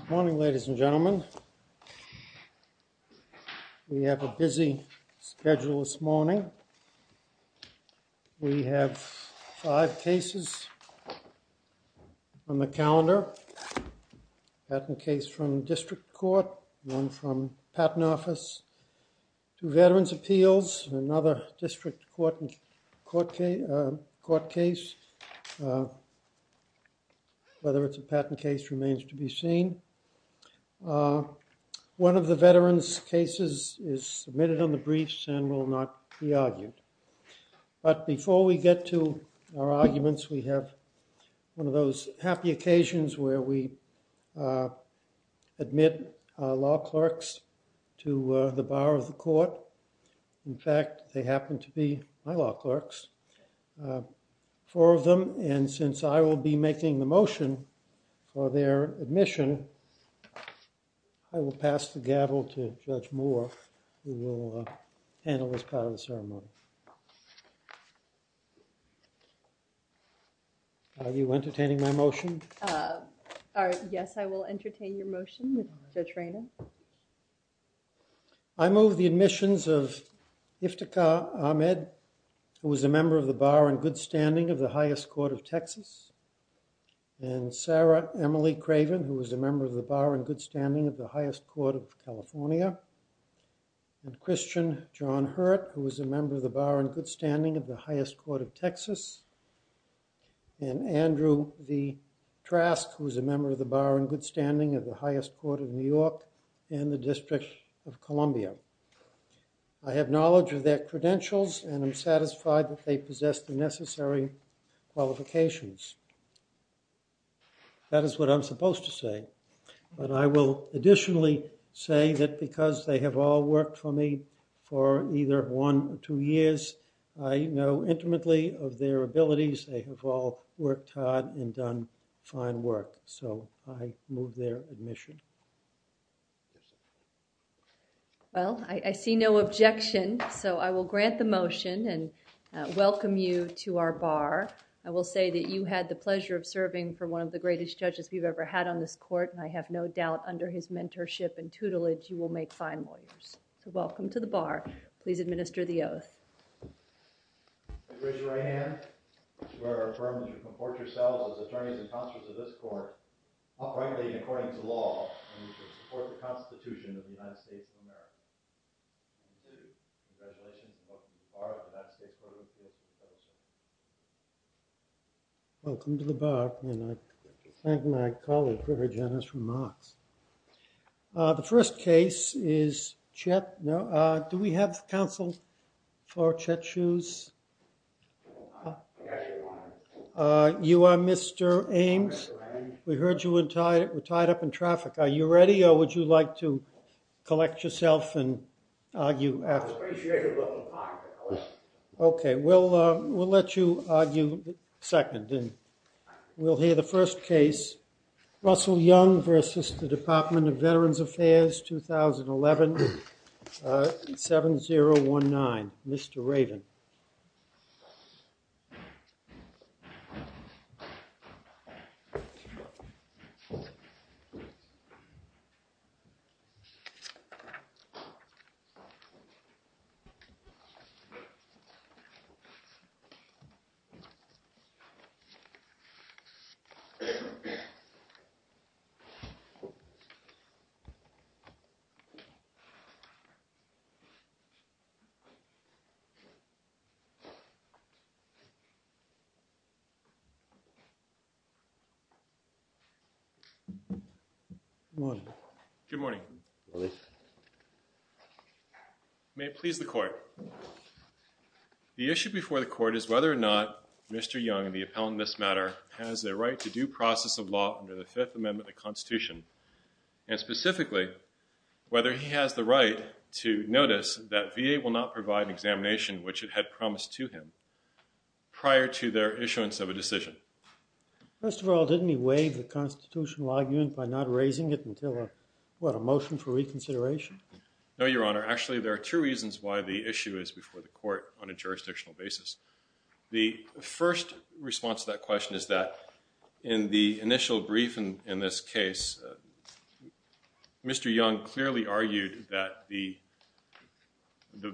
Good morning, ladies and gentlemen. We have a busy schedule this morning. We have five cases on the calendar. A patent case from district court, one from patent office, two sorts of patent case remains to be seen. One of the veteran's cases is submitted on the briefs and will not be argued. But before we get to our arguments, we have one of those happy occasions where we admit law clerks to the bar of the court. In fact, they happen to be my law clerks, four of them. And since I will be making the motion for their admission, I will pass the gavel to Judge Moore who will handle this part of the ceremony. Are you entertaining my motion? Yes, I will entertain your motion, Judge Rayner. I move the admissions of Iftikhar Ahmed, who is a member of the Bar and Good Standing of the Highest Court of Texas, and Sarah Emily Craven, who is a member of the Bar and Good Standing of the Highest Court of California, and Christian John Hurt, who is a member of the Bar and Good Standing of the Highest Court of Texas, and Andrew V. Trask, who is a member of the I have knowledge of their credentials, and I'm satisfied that they possess the necessary qualifications. That is what I'm supposed to say. But I will additionally say that because they have all worked for me for either one or two years, I know intimately of their abilities. They have all worked hard and done fine work, so I move their admission. Well, I see no objection, so I will grant the motion and welcome you to our bar. I will say that you had the pleasure of serving for one of the greatest judges we've ever had on this court, and I have no doubt under his mentorship and tutelage you will make fine lawyers. So welcome to the bar, and I thank my colleague for her generous remarks. The first case is Chet. Do we have counsel for Chet Shoes? You are Mr. Ames. We heard you were tied up in traffic. Are you ready, or would you like to collect yourself and argue afterwards? Okay, we'll let you argue second, and we'll hear the first case. Russell Young versus the Department of Veterans Affairs, 2011, 7019. Mr. Raven. Good morning. May it please the Court. The issue before the Court is whether or not Mr. Young, the appellant in this matter, has the right to due process of law under the Fifth Amendment, and secondly, whether he has the right to notice that VA will not provide an examination which it had promised to him prior to their issuance of a decision. First of all, didn't he waive the constitutional argument by not raising it until, what, a motion for reconsideration? No, Your Honor. Actually, there are two reasons why the issue is before the Court on a jurisdictional basis. The first response to that question is that in the initial brief in this case, Mr. Young clearly argued that the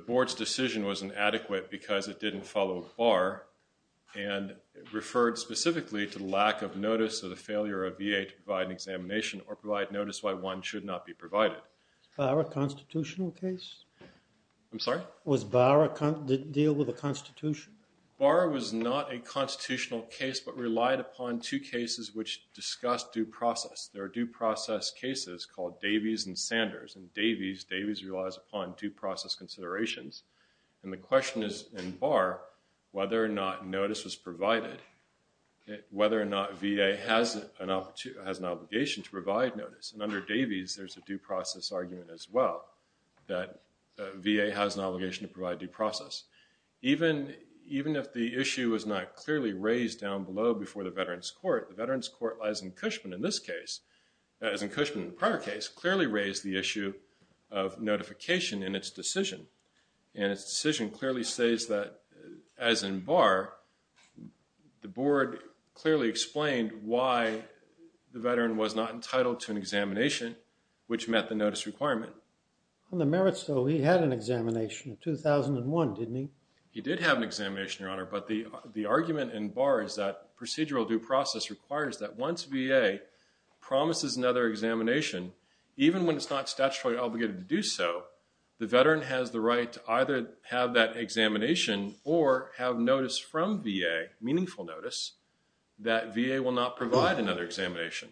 Board's decision was inadequate because it didn't follow BARR and referred specifically to the lack of notice of the failure of VA to provide an examination or provide notice why one should not be provided. Was BARR a constitutional case? I'm sorry? Did BARR deal with a constitution? BARR was not a constitutional case but relied upon two cases which discussed due process. There are due process cases called Davies and Sanders. In Davies, Davies relies upon due process considerations, and the question is in BARR whether or not notice was provided, whether or not VA has an obligation to provide notice. And under Davies, there's a due process argument as well that VA has an obligation to provide due process. Even if the issue is not clearly raised down below before the Veterans Court, the Veterans Court, as in Cushman in this case, as in Cushman in the prior case, clearly raised the issue of notification in its decision. And its decision clearly says that as in BARR, the Board clearly explained why the veteran was not entitled to an examination which met the notice requirement. Robert? On the merits though, he had an examination in 2001, didn't he? He did have an examination, Your Honor. But the argument in BARR is that procedural due process requires that once VA promises another examination, even when it's not statutorily obligated to do so, the veteran has the right to either have that examination or have notice from VA, meaningful notice, that VA will not provide another examination.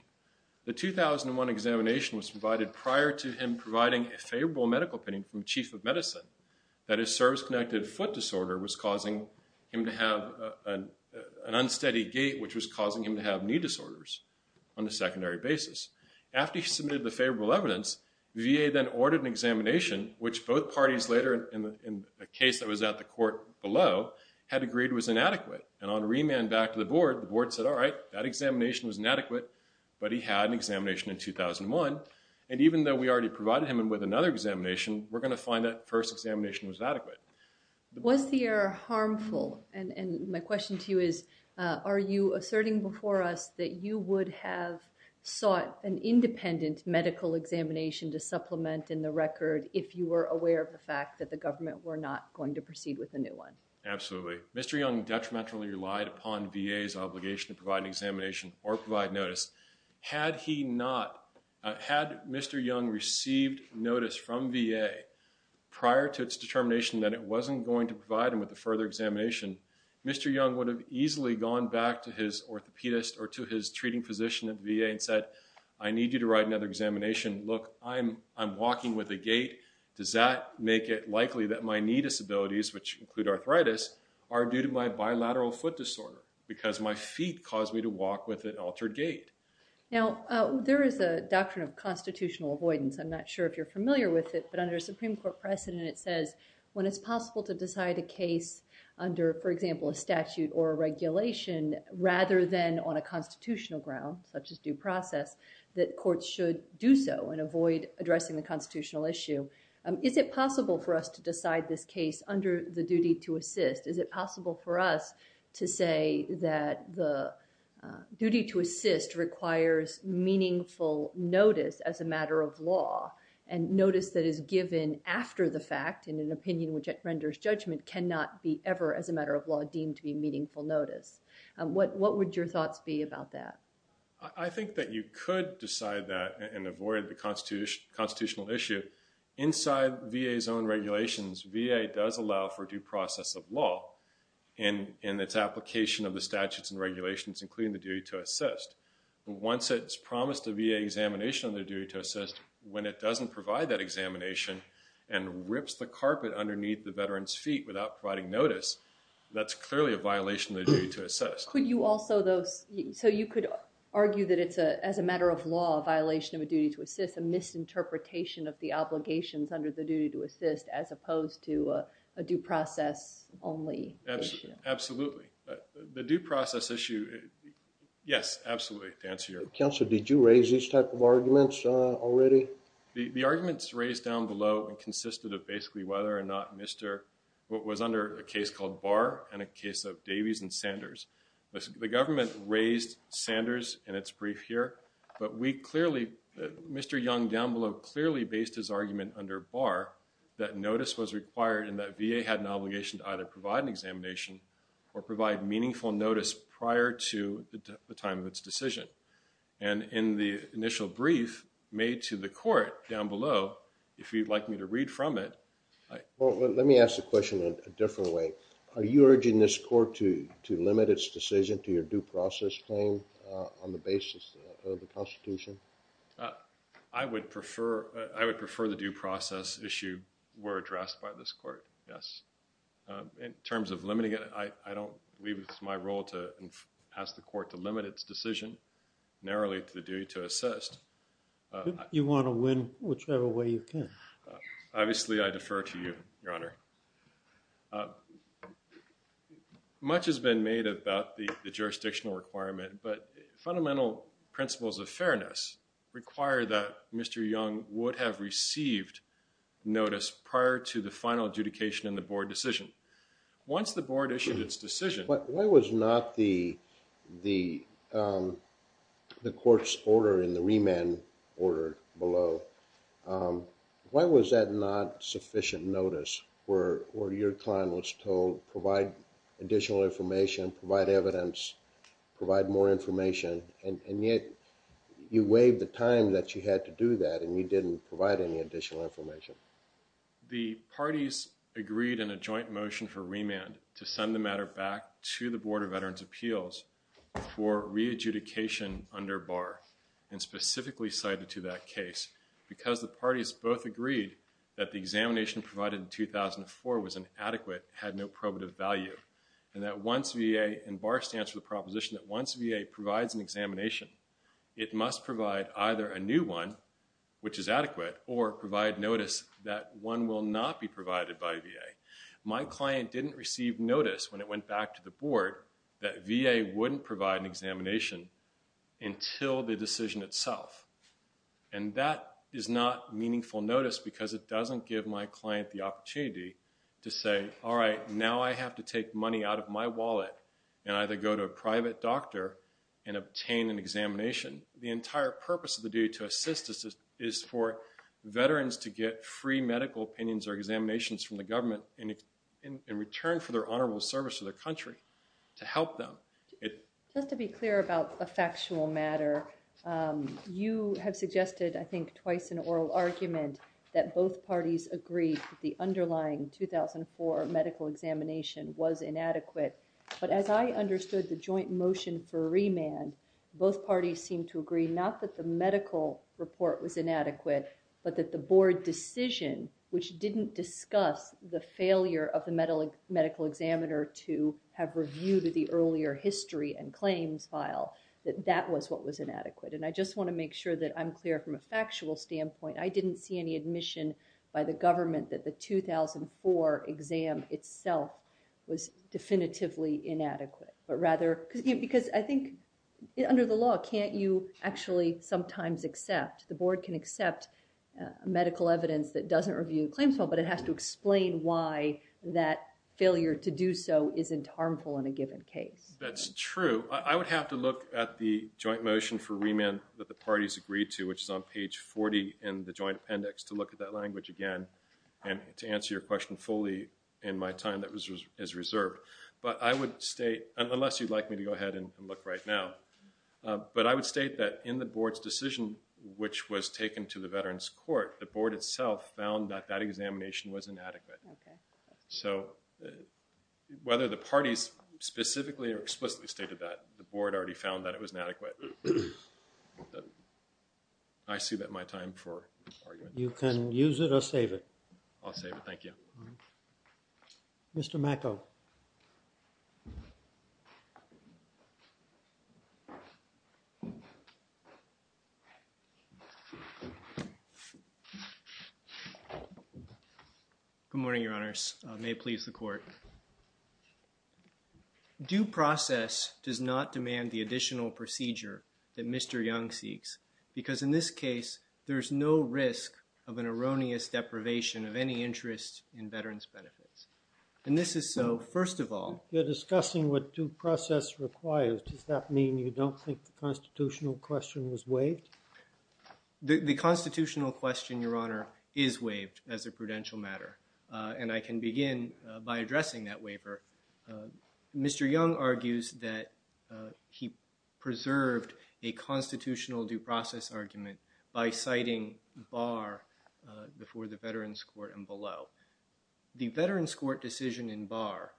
The 2001 examination was provided prior to him providing a favorable medical opinion from Chief of Medicine that his service-connected foot disorder was causing him to have an unsteady gait which was causing him to have knee disorders on the secondary basis. After he submitted the favorable evidence, VA then ordered an examination which both parties later in a case that was at the court below had agreed was inadequate. And on remand back to the Board, the Board said, all right, that examination was inadequate, but he had an examination in 2001. And even though we already provided him with another examination, we're going to find that first examination was inadequate. Was the error harmful? And my question to you is, are you asserting before us that you would have sought an independent medical examination to supplement in the record if you were aware of the fact that the government were not going to proceed with a new one? Absolutely. Mr. Young detrimentally relied upon VA's obligation to provide an examination or provide notice. Had he not, had Mr. Young received notice from VA prior to its determination that it wasn't going to provide him with a further examination, Mr. Young would have easily gone back to his orthopedist or to his treating physician at the time. Now, there is a doctrine of constitutional avoidance. I'm not sure if you're familiar with it, but under a Supreme Court precedent, it says when it's possible to decide a case under, for example, a statute or a regulation, rather than on a constitutional ground, such as due process, that courts should do so and avoid addressing the constitutional issue. Is it possible for us to decide this case under the duty to assist? Is it possible for us to say that the duty to assist requires meaningful notice as a matter of law and notice that is given after the fact in an opinion which renders judgment cannot be ever as a matter of law deemed to be meaningful notice? What would your thoughts be about that? I think that you could decide that and avoid the constitutional issue. Inside VA's own regulations, VA does allow for due process of law in its application of the statutes and regulations, including the duty to assist. Once it's promised a VA examination on their duty to assist, when it doesn't provide that examination and rips the carpet underneath the veteran's feet without providing notice, that's clearly a violation of the duty to assist. Could you also, though, so you could argue that it's a, as a matter of law, a violation of a duty to assist, a misinterpretation of the obligations under the duty to assist, as opposed to a due process only issue? Absolutely. The due process issue, yes, absolutely, to answer your question. Counselor, did you raise these type of arguments already? The arguments raised down below consisted of basically whether or not Mr., what was under a case called Barr and a case of Davies and Sanders. The government raised Sanders in its brief here, but we clearly, Mr. Young down below clearly based his argument under Barr that notice was required and that VA had an obligation to either provide an examination or provide meaningful notice prior to the time of its decision. And in the initial brief made to the court down below, if you'd like me to read from it. Well, let me ask the question in a different way. Are you urging this court to, to limit its decision to your due process claim on the basis of the Constitution? I would prefer, I would prefer the due process issue were addressed by this court, yes. In terms of limiting it, I, I don't believe it's my role to ask the court to limit its decision narrowly to the duty to assist. You want to win whichever way you can. Obviously, I defer to you, Your Honor. Much has been made about the jurisdictional requirement, but fundamental principles of fairness require that Mr. Young would have received notice prior to the final adjudication in the board decision. Once the board issued its decision. But why was not the, the, the court's order in the remand order below? Why was that not sufficient notice where, where your client was told provide additional information, provide evidence, provide more information, and yet you waived the time that you had to do that and you didn't provide any additional information? The parties agreed in a joint motion for remand to send the matter back to the Board of Veterans' Appeals for re-adjudication under BAR and specifically cited to that case because the parties both agreed that the examination provided in 2004 was inadequate, had no probative value. And that once VA, and BAR stands for the proposition that once VA provides an examination, it must provide either a new one, which is adequate, or provide notice that one will not be provided by VA. My client didn't receive notice when it went back to the board that VA wouldn't provide an examination until the decision itself. And that is not meaningful notice because it doesn't give my client the opportunity to say, all right, now I have to take money out of my wallet and either go to a private doctor and obtain an examination. The entire purpose of the duty to assist us is for veterans to get free medical opinions or to help them. Just to be clear about a factual matter, you have suggested, I think, twice an oral argument that both parties agreed the underlying 2004 medical examination was inadequate. But as I understood the joint motion for remand, both parties seemed to agree not that the medical report was inadequate, but that the board decision, which didn't discuss the failure of the medical examiner to have reviewed the earlier history and claims file, that that was what was inadequate. And I just want to make sure that I'm clear from a factual standpoint. I didn't see any admission by the government that the 2004 exam itself was definitively inadequate. But rather, because I think under the law, can't you actually sometimes accept, the board can accept medical evidence that doesn't review the claims file, but it has to explain why that failure to do so isn't harmful in a given case. That's true. I would have to look at the joint motion for remand that the parties agreed to, which is on page 40 in the joint appendix, to look at that language again and to answer your question fully in my time that is reserved. But I would state, unless you'd like me to go ahead and look right now, but I would state that in the board's decision, which was taken to the veterans court, the board itself found that that examination was inadequate. So, whether the parties specifically or explicitly stated that, the board already found that it was inadequate. I see that my time for argument. You can use it I'll save it. Thank you. Mr. Macko. Good morning, your honors. May it please the court. Due process does not demand the additional procedure that Mr. Young seeks, because in this of an erroneous deprivation of any interest in veterans benefits. And this is so, first of all, you're discussing what due process requires. Does that mean you don't think the constitutional question was waived? The constitutional question, your honor, is waived as a prudential matter. And I can begin by addressing that waiver. Mr. Young argues that he preserved a constitutional due process argument by citing Barr before the veterans court and below. The veterans court decision in Barr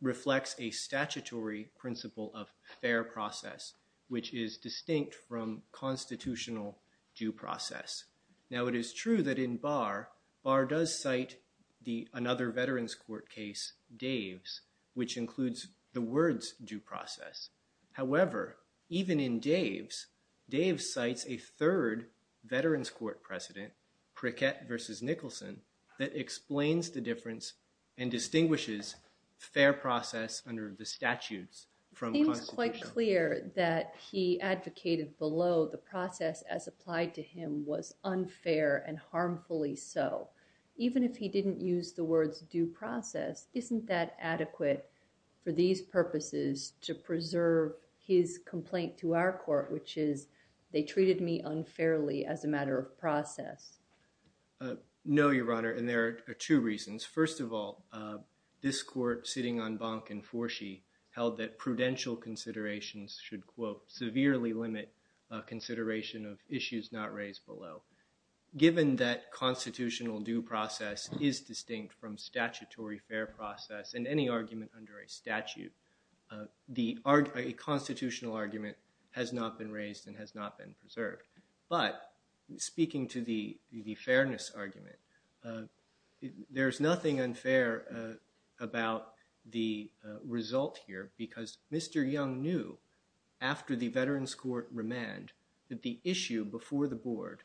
reflects a statutory principle of fair process, which is distinct from constitutional due process. Now, it is true that in Barr, Barr does cite another veterans court case, Dave's, which includes the words due process. However, even in Dave's, Dave cites a third veterans court precedent, Prickett versus Nicholson, that explains the difference and distinguishes fair process under the statutes from constitution. It seems quite clear that he advocated below the process as applied to him was unfair and harmfully so. Even if he didn't use the words due process, isn't that adequate for these purposes to preserve his complaint to our court, which is they treated me unfairly as a matter of process? No, your honor, and there are two reasons. First of all, this court sitting on Bonk and Forshee held that prudential considerations should, quote, severely limit consideration of issues not raised below. Given that constitutional due process is distinct from statutory fair process and any argument under a statute, the constitutional argument has not been raised and has not been preserved. But speaking to the fairness argument, there's nothing unfair about the result here because Mr. Young knew after the veterans court remand that the issue before the board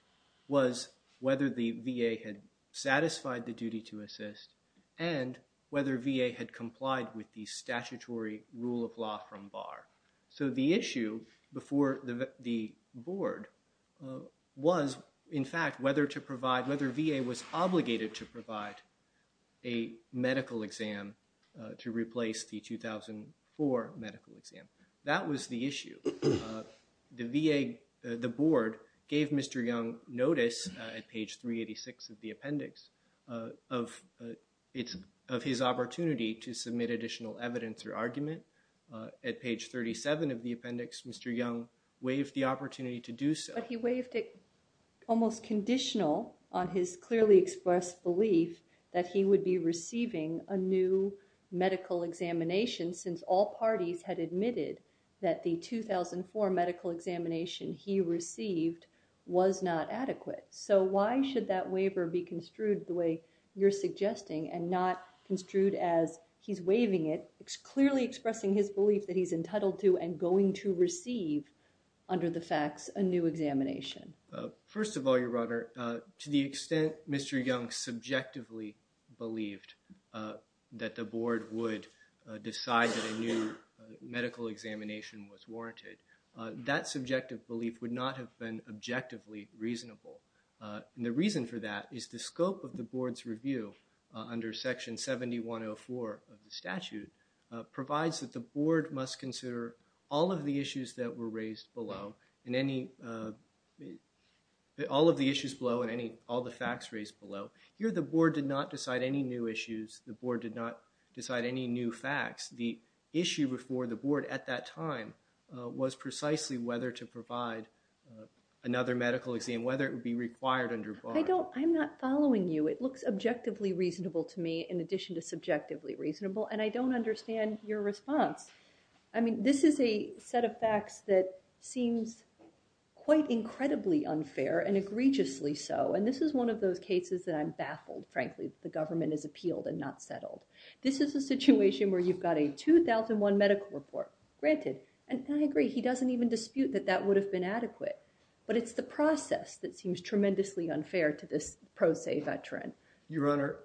was whether the VA satisfied the duty to assist and whether VA had complied with the statutory rule of law from bar. So the issue before the board was, in fact, whether to provide, whether VA was obligated to provide a medical exam to replace the 2004 medical exam. That was the issue. The VA, the board, gave Mr. Young notice at page 386 of the appendix of his opportunity to submit additional evidence or argument. At page 37 of the appendix, Mr. Young waived the opportunity to do so. But he waived it almost conditional on his clearly expressed belief that he would be receiving a new medical examination since all parties had admitted that the 2004 medical examination he received was not adequate. So why should that waiver be construed the way you're suggesting and not construed as he's waiving it, clearly expressing his belief that he's entitled to and going to receive under the facts a new examination? First of all, Your Honor, to the extent Mr. Young subjectively believed that the board would decide that a new medical examination was warranted, that subjective belief would not have been objectively reasonable. And the reason for that is the scope of the board's review under section 7104 of the statute provides that the board must consider all of the issues that were raised below and any, all of the issues below and any, all the facts raised below. Here the board did not decide any new issues. The board did not decide any new was precisely whether to provide another medical exam, whether it would be required under board. I don't, I'm not following you. It looks objectively reasonable to me in addition to subjectively reasonable. And I don't understand your response. I mean, this is a set of facts that seems quite incredibly unfair and egregiously so. And this is one of those cases that I'm baffled, frankly, that the government has appealed and not settled. This is a situation where you've got a 2001 medical report granted. And I agree, he doesn't even dispute that that would have been adequate. But it's the process that seems tremendously unfair to this pro se veteran. Your Honor,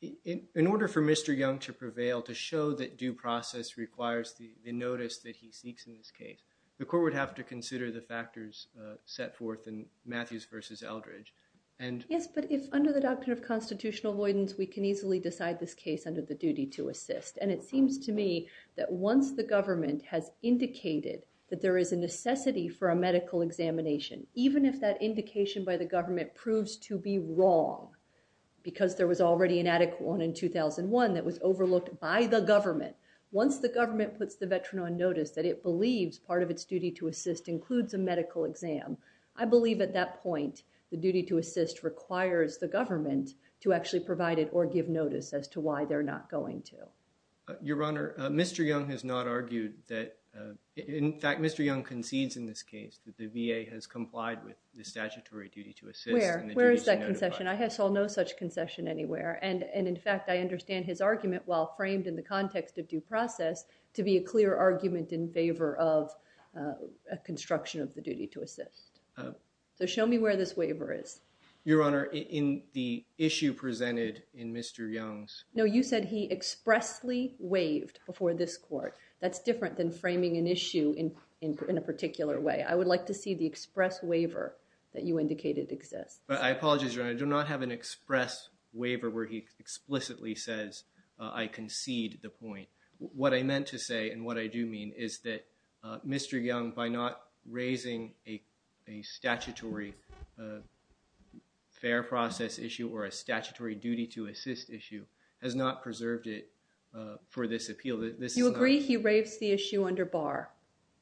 in order for Mr. Young to prevail, to show that due process requires the notice that he seeks in this case, the court would have to consider the factors set forth in Matthews versus Eldridge. Yes, but if under the doctrine of constitutional avoidance, we can easily decide this case under the duty to assist. And it seems to me that once the government has indicated that there is a necessity for a medical examination, even if that indication by the government proves to be wrong, because there was already an adequate one in 2001 that was overlooked by the government. Once the government puts the veteran on notice that it believes part of its duty to assist includes a medical exam, I believe at that point, the duty to assist requires the government to actually provide it or give notice as to why they're not going to. Your Honor, Mr. Young has not argued that, in fact, Mr. Young concedes in this case that the VA has complied with the statutory duty to assist. Where is that concession? I saw no such concession anywhere. And in fact, I understand his argument while framed in the context of due process to be a clear argument in favor of a construction of the duty to assist. So show me where this waiver is. Your Honor, in the issue presented in Mr. Young's... No, you said he expressly waived before this court. That's different than framing an issue in a particular way. I would like to see the express waiver that you indicated exists. But I apologize, Your Honor. I do not have an express waiver where he explicitly says I concede the point. What I meant to say and what I do mean is that Mr. Young, by not raising a statutory fair process issue or a statutory duty to assist issue, has not preserved it for this appeal. You agree he raves the issue under bar,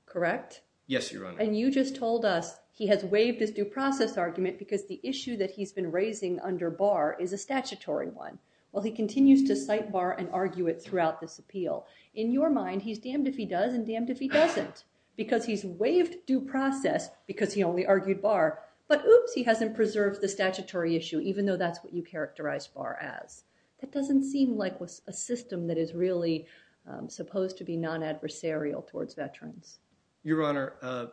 correct? Yes, Your Honor. And you just told us he has waived his due process argument because the issue that he's been raising under bar is a statutory one. Well, he continues to cite bar and argue it throughout this appeal. In your mind, he's damned if he does and damned if he doesn't because he's waived due process because he only argued bar. But oops, he hasn't preserved the statutory issue even though that's what you characterized bar as. That doesn't seem like a system that is really supposed to be non-adversarial towards veterans. Your Honor,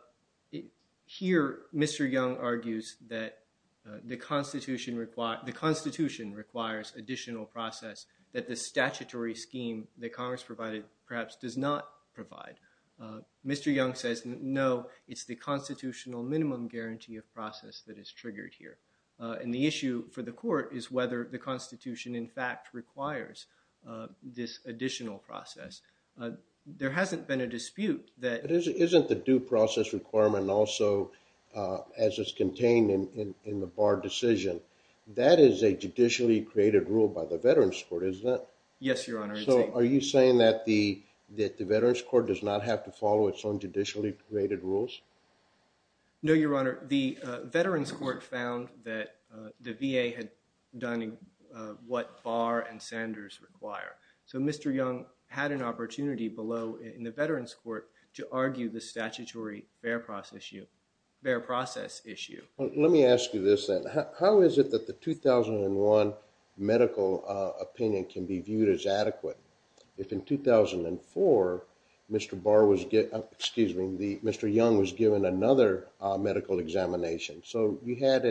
here Mr. Young argues that the Constitution requires additional process that the statutory scheme that Congress provided perhaps does not provide. Mr. Young says no, it's the constitutional minimum guarantee of process that is triggered here. And the issue for the court is whether the Constitution in fact requires this additional process. There hasn't been a dispute that... Isn't the due process requirement also, as it's contained in the bar decision, that is a judicially created rule by the Veterans Court, is it? Yes, Your Honor. So, are you saying that the Veterans Court does not have to follow its own judicially created rules? No, Your Honor. The Veterans Court found that the VA had done what bar and Sanders require. So, Mr. Young had an opportunity below in the Veterans Court to argue the statutory bare process issue. Let me ask you this then. How is it that the 2001 medical opinion can be viewed as adequate if in 2004 Mr. Young was given another medical examination? So, you had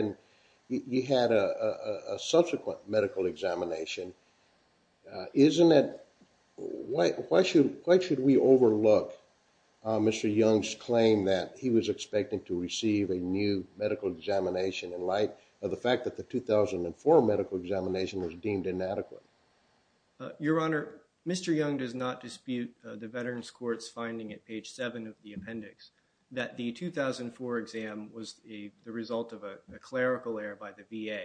a subsequent medical examination. Why should we overlook Mr. Young's claim that he was expecting to receive a new medical examination in light of the fact that 2004 medical examination was deemed inadequate? Your Honor, Mr. Young does not dispute the Veterans Court's finding at page 7 of the appendix that the 2004 exam was the result of a clerical error by the VA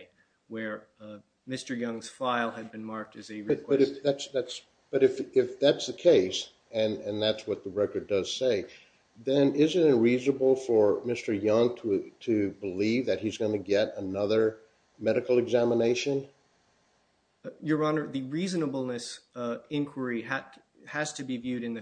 where Mr. Young's file had been marked as a request. But if that's the case and that's what the record does say, then isn't it reasonable for Mr. Young to believe that he's going to get another medical examination? Your Honor, the reasonableness inquiry has to be viewed in the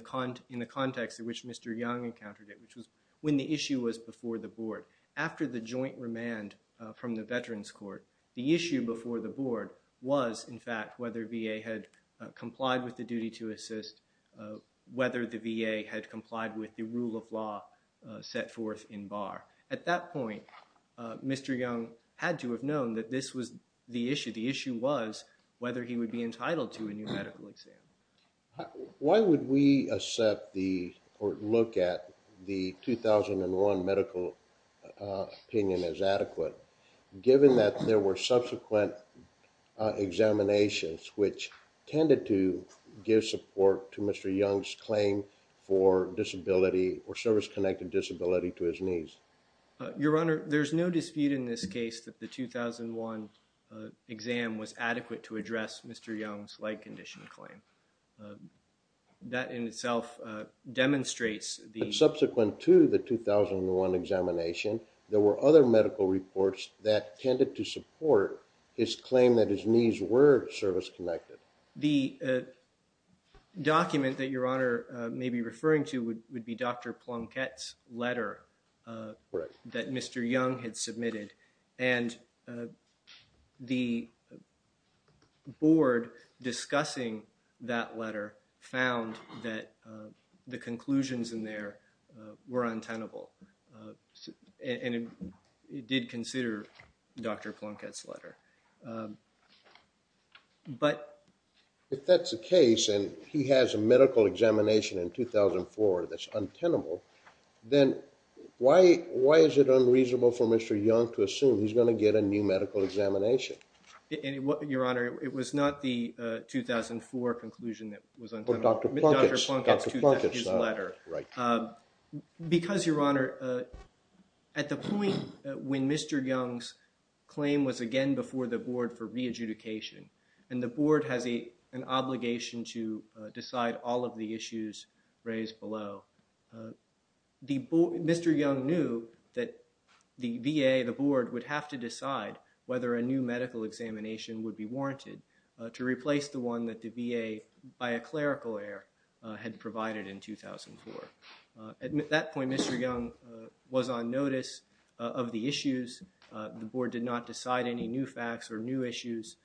context in which Mr. Young encountered it which was when the issue was before the board. After the joint remand from the Veterans Court, the issue before the board was in fact whether VA had complied with the duty to assist, whether the VA had complied with the had to have known that this was the issue. The issue was whether he would be entitled to a new medical exam. Why would we accept the or look at the 2001 medical opinion as adequate given that there were subsequent examinations which tended to give support to Mr. Young's claim for disability or service-connected disability to his knees? Your Honor, there's no dispute in this case that the 2001 exam was adequate to address Mr. Young's leg condition claim. That in itself demonstrates the subsequent to the 2001 examination there were other medical reports that tended to support his claim that his knees were service-connected. The document that Your Honor may be referring to would be Dr. Plunkett's letter that Mr. Young had submitted and the board discussing that letter found that the conclusions in there were untenable and it did consider Dr. Plunkett's letter. If that's the case and he has a medical examination in 2004 that's untenable then why is it unreasonable for Mr. Young to assume he's going to get a new medical examination? Your Honor, it was not the 2004 conclusion that was untenable. Dr. Plunkett's letter. Right. Because, Your Honor, at the point when Mr. Young's claim was again before the board for re-adjudication and the board has an obligation to decide all of the issues raised below, Mr. Young knew that the VA, the board, would have to decide whether a new medical examination would be warranted to replace the one that the VA by a clerical error had provided in 2004. At that point, Mr. Young was on notice of the issues. The board did not decide any new facts or new issues.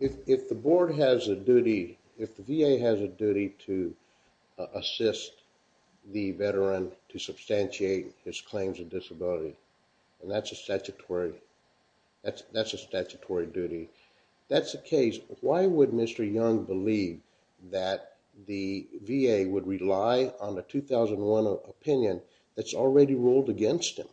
If the board has a duty, if the VA has a duty to assist the veteran to substantiate his claims of disability and that's a statutory, that's a statutory duty, that's the case. Why would Mr. Young believe that the VA would rely on a 2001 opinion that's already ruled against him?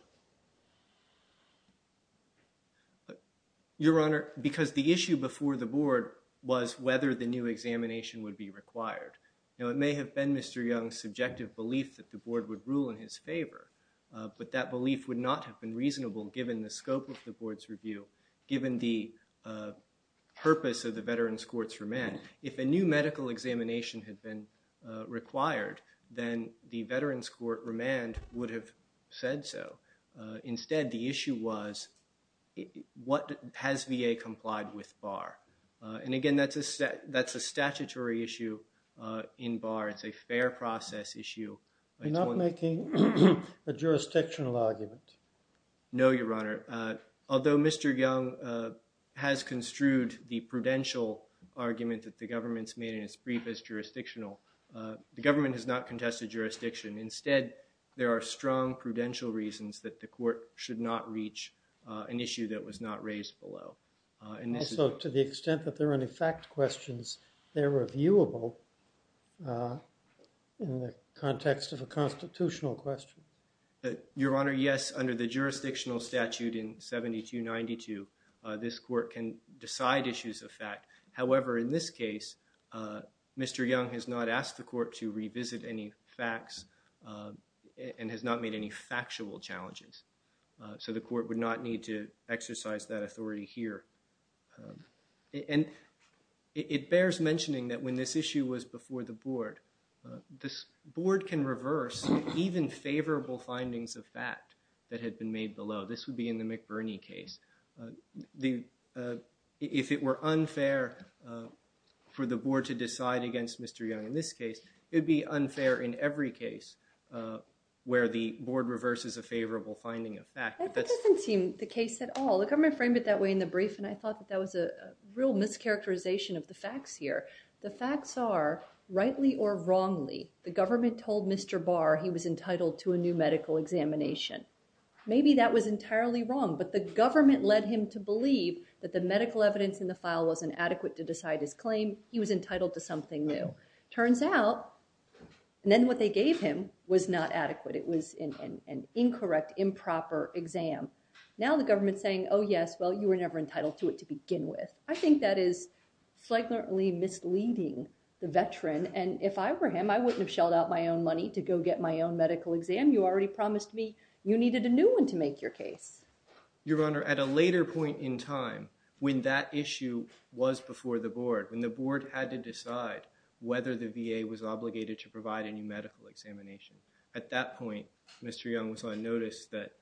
Your Honor, because the issue before the board was whether the new examination would be required. Now, it may have been Mr. Young's subjective belief that the board would rule in his favor, but that belief would not have been reasonable given the scope of the board's review, given the purpose of the veteran's court's remand. If a new medical examination had been required, then the veteran's court remand would have said so. Instead, the issue was what has VA complied with BARR? And again, that's a statutory issue in BARR. It's a fair process issue. You're not making a jurisdictional argument? No, Your Honor. Although Mr. Young has construed the prudential argument that the government's made in its brief as jurisdictional, the government has not contested jurisdiction. Instead, there are strong prudential reasons that the court should not reach an issue that was not raised below. And so, to the extent that there are any fact questions, they're reviewable in the context of a constitutional question? Your Honor, yes. Under the jurisdictional statute in 7292, this court can decide issues of fact. However, in this case, Mr. Young has not asked the court to revisit any facts and has not made any factual challenges. So, the court would not need to exercise that authority here. And it bears mentioning that when this issue was before the board, this board can reverse even favorable findings of fact that had been made below. This would be in the McBurney case. If it were unfair for the board to decide against Mr. Young in this case, it would be unfair in every case where the board reverses a favorable finding of fact. But that doesn't seem the case at all. The government framed it that way in the brief, and I thought that that was a real mischaracterization of the facts here. The facts are, rightly or wrongly, the government told Mr. Barr he was entitled to a new medical examination. Maybe that was entirely wrong, but the government led him to believe that the medical evidence in the file wasn't adequate to decide his claim. He was entitled to something new. Turns out, and then what they gave him was not adequate. It was an incorrect, improper exam. Now the government's saying, oh yes, well, you were never entitled to it to begin with. I think that is slightly misleading the veteran. And if I were him, I wouldn't have shelled out my own money to go get my own medical exam. You already promised me you needed a new one to make your case. Your Honor, at a later point in time when that issue was before the board, when the board had to decide whether the VA was obligated to provide a new medical examination, at that point Mr. Young was on notice that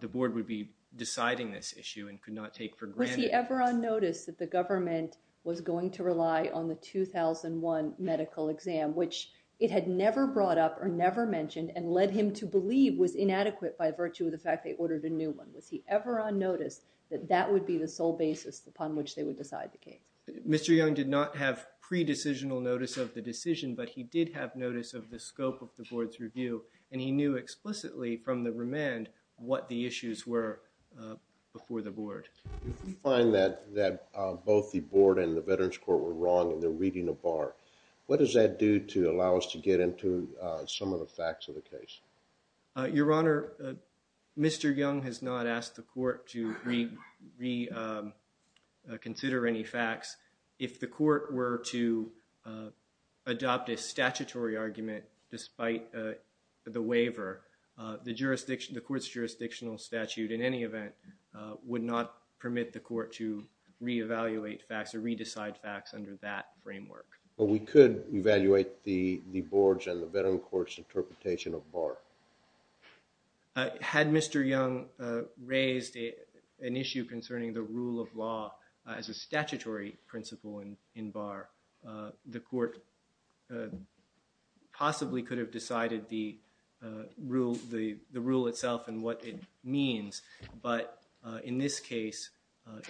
the board would be deciding this issue and could not take for granted. Was he ever on notice that the government was going to rely on the 2001 medical exam, which it had never brought up or never mentioned and led him to believe was inadequate by virtue of the fact they ordered a new one? Was he ever on notice that that would be the sole basis upon which they would decide the case? Mr. Young did not have pre-decisional notice of the decision, but he did have notice of the scope of the board's review. And he knew explicitly from the remand what the issues were before the board. If we find that both the board and the Veterans Court were wrong and they're reading a bar, what does that do to allow us to get into some of the facts of the case? Your Honor, Mr. Young has not asked the court to reconsider any facts. If the court were to adopt a statutory argument despite the waiver, the court's jurisdictional statute in any event would not permit the court to re-evaluate facts or re-decide facts under that framework. But we could evaluate the board's and the Veterans Court's interpretation of bar. Had Mr. Young raised an issue concerning the rule of law as a statutory principle in bar, the court possibly could have decided the rule itself and what it means. But in this case,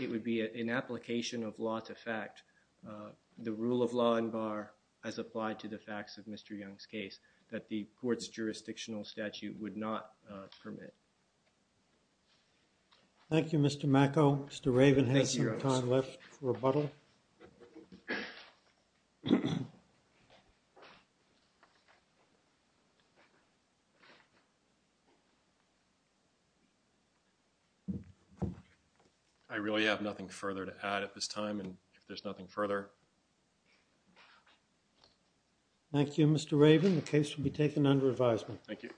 it would be an application of law to fact. The rule of law in bar has applied to the facts of Mr. Young's case that the court's jurisdictional statute would not permit. Thank you, Mr. Macco. Mr. Raven has some time left for rebuttal. I really have nothing further to add at this time and if there's nothing further. Thank you, Mr. Raven. The case will be taken under advisement. Thank you.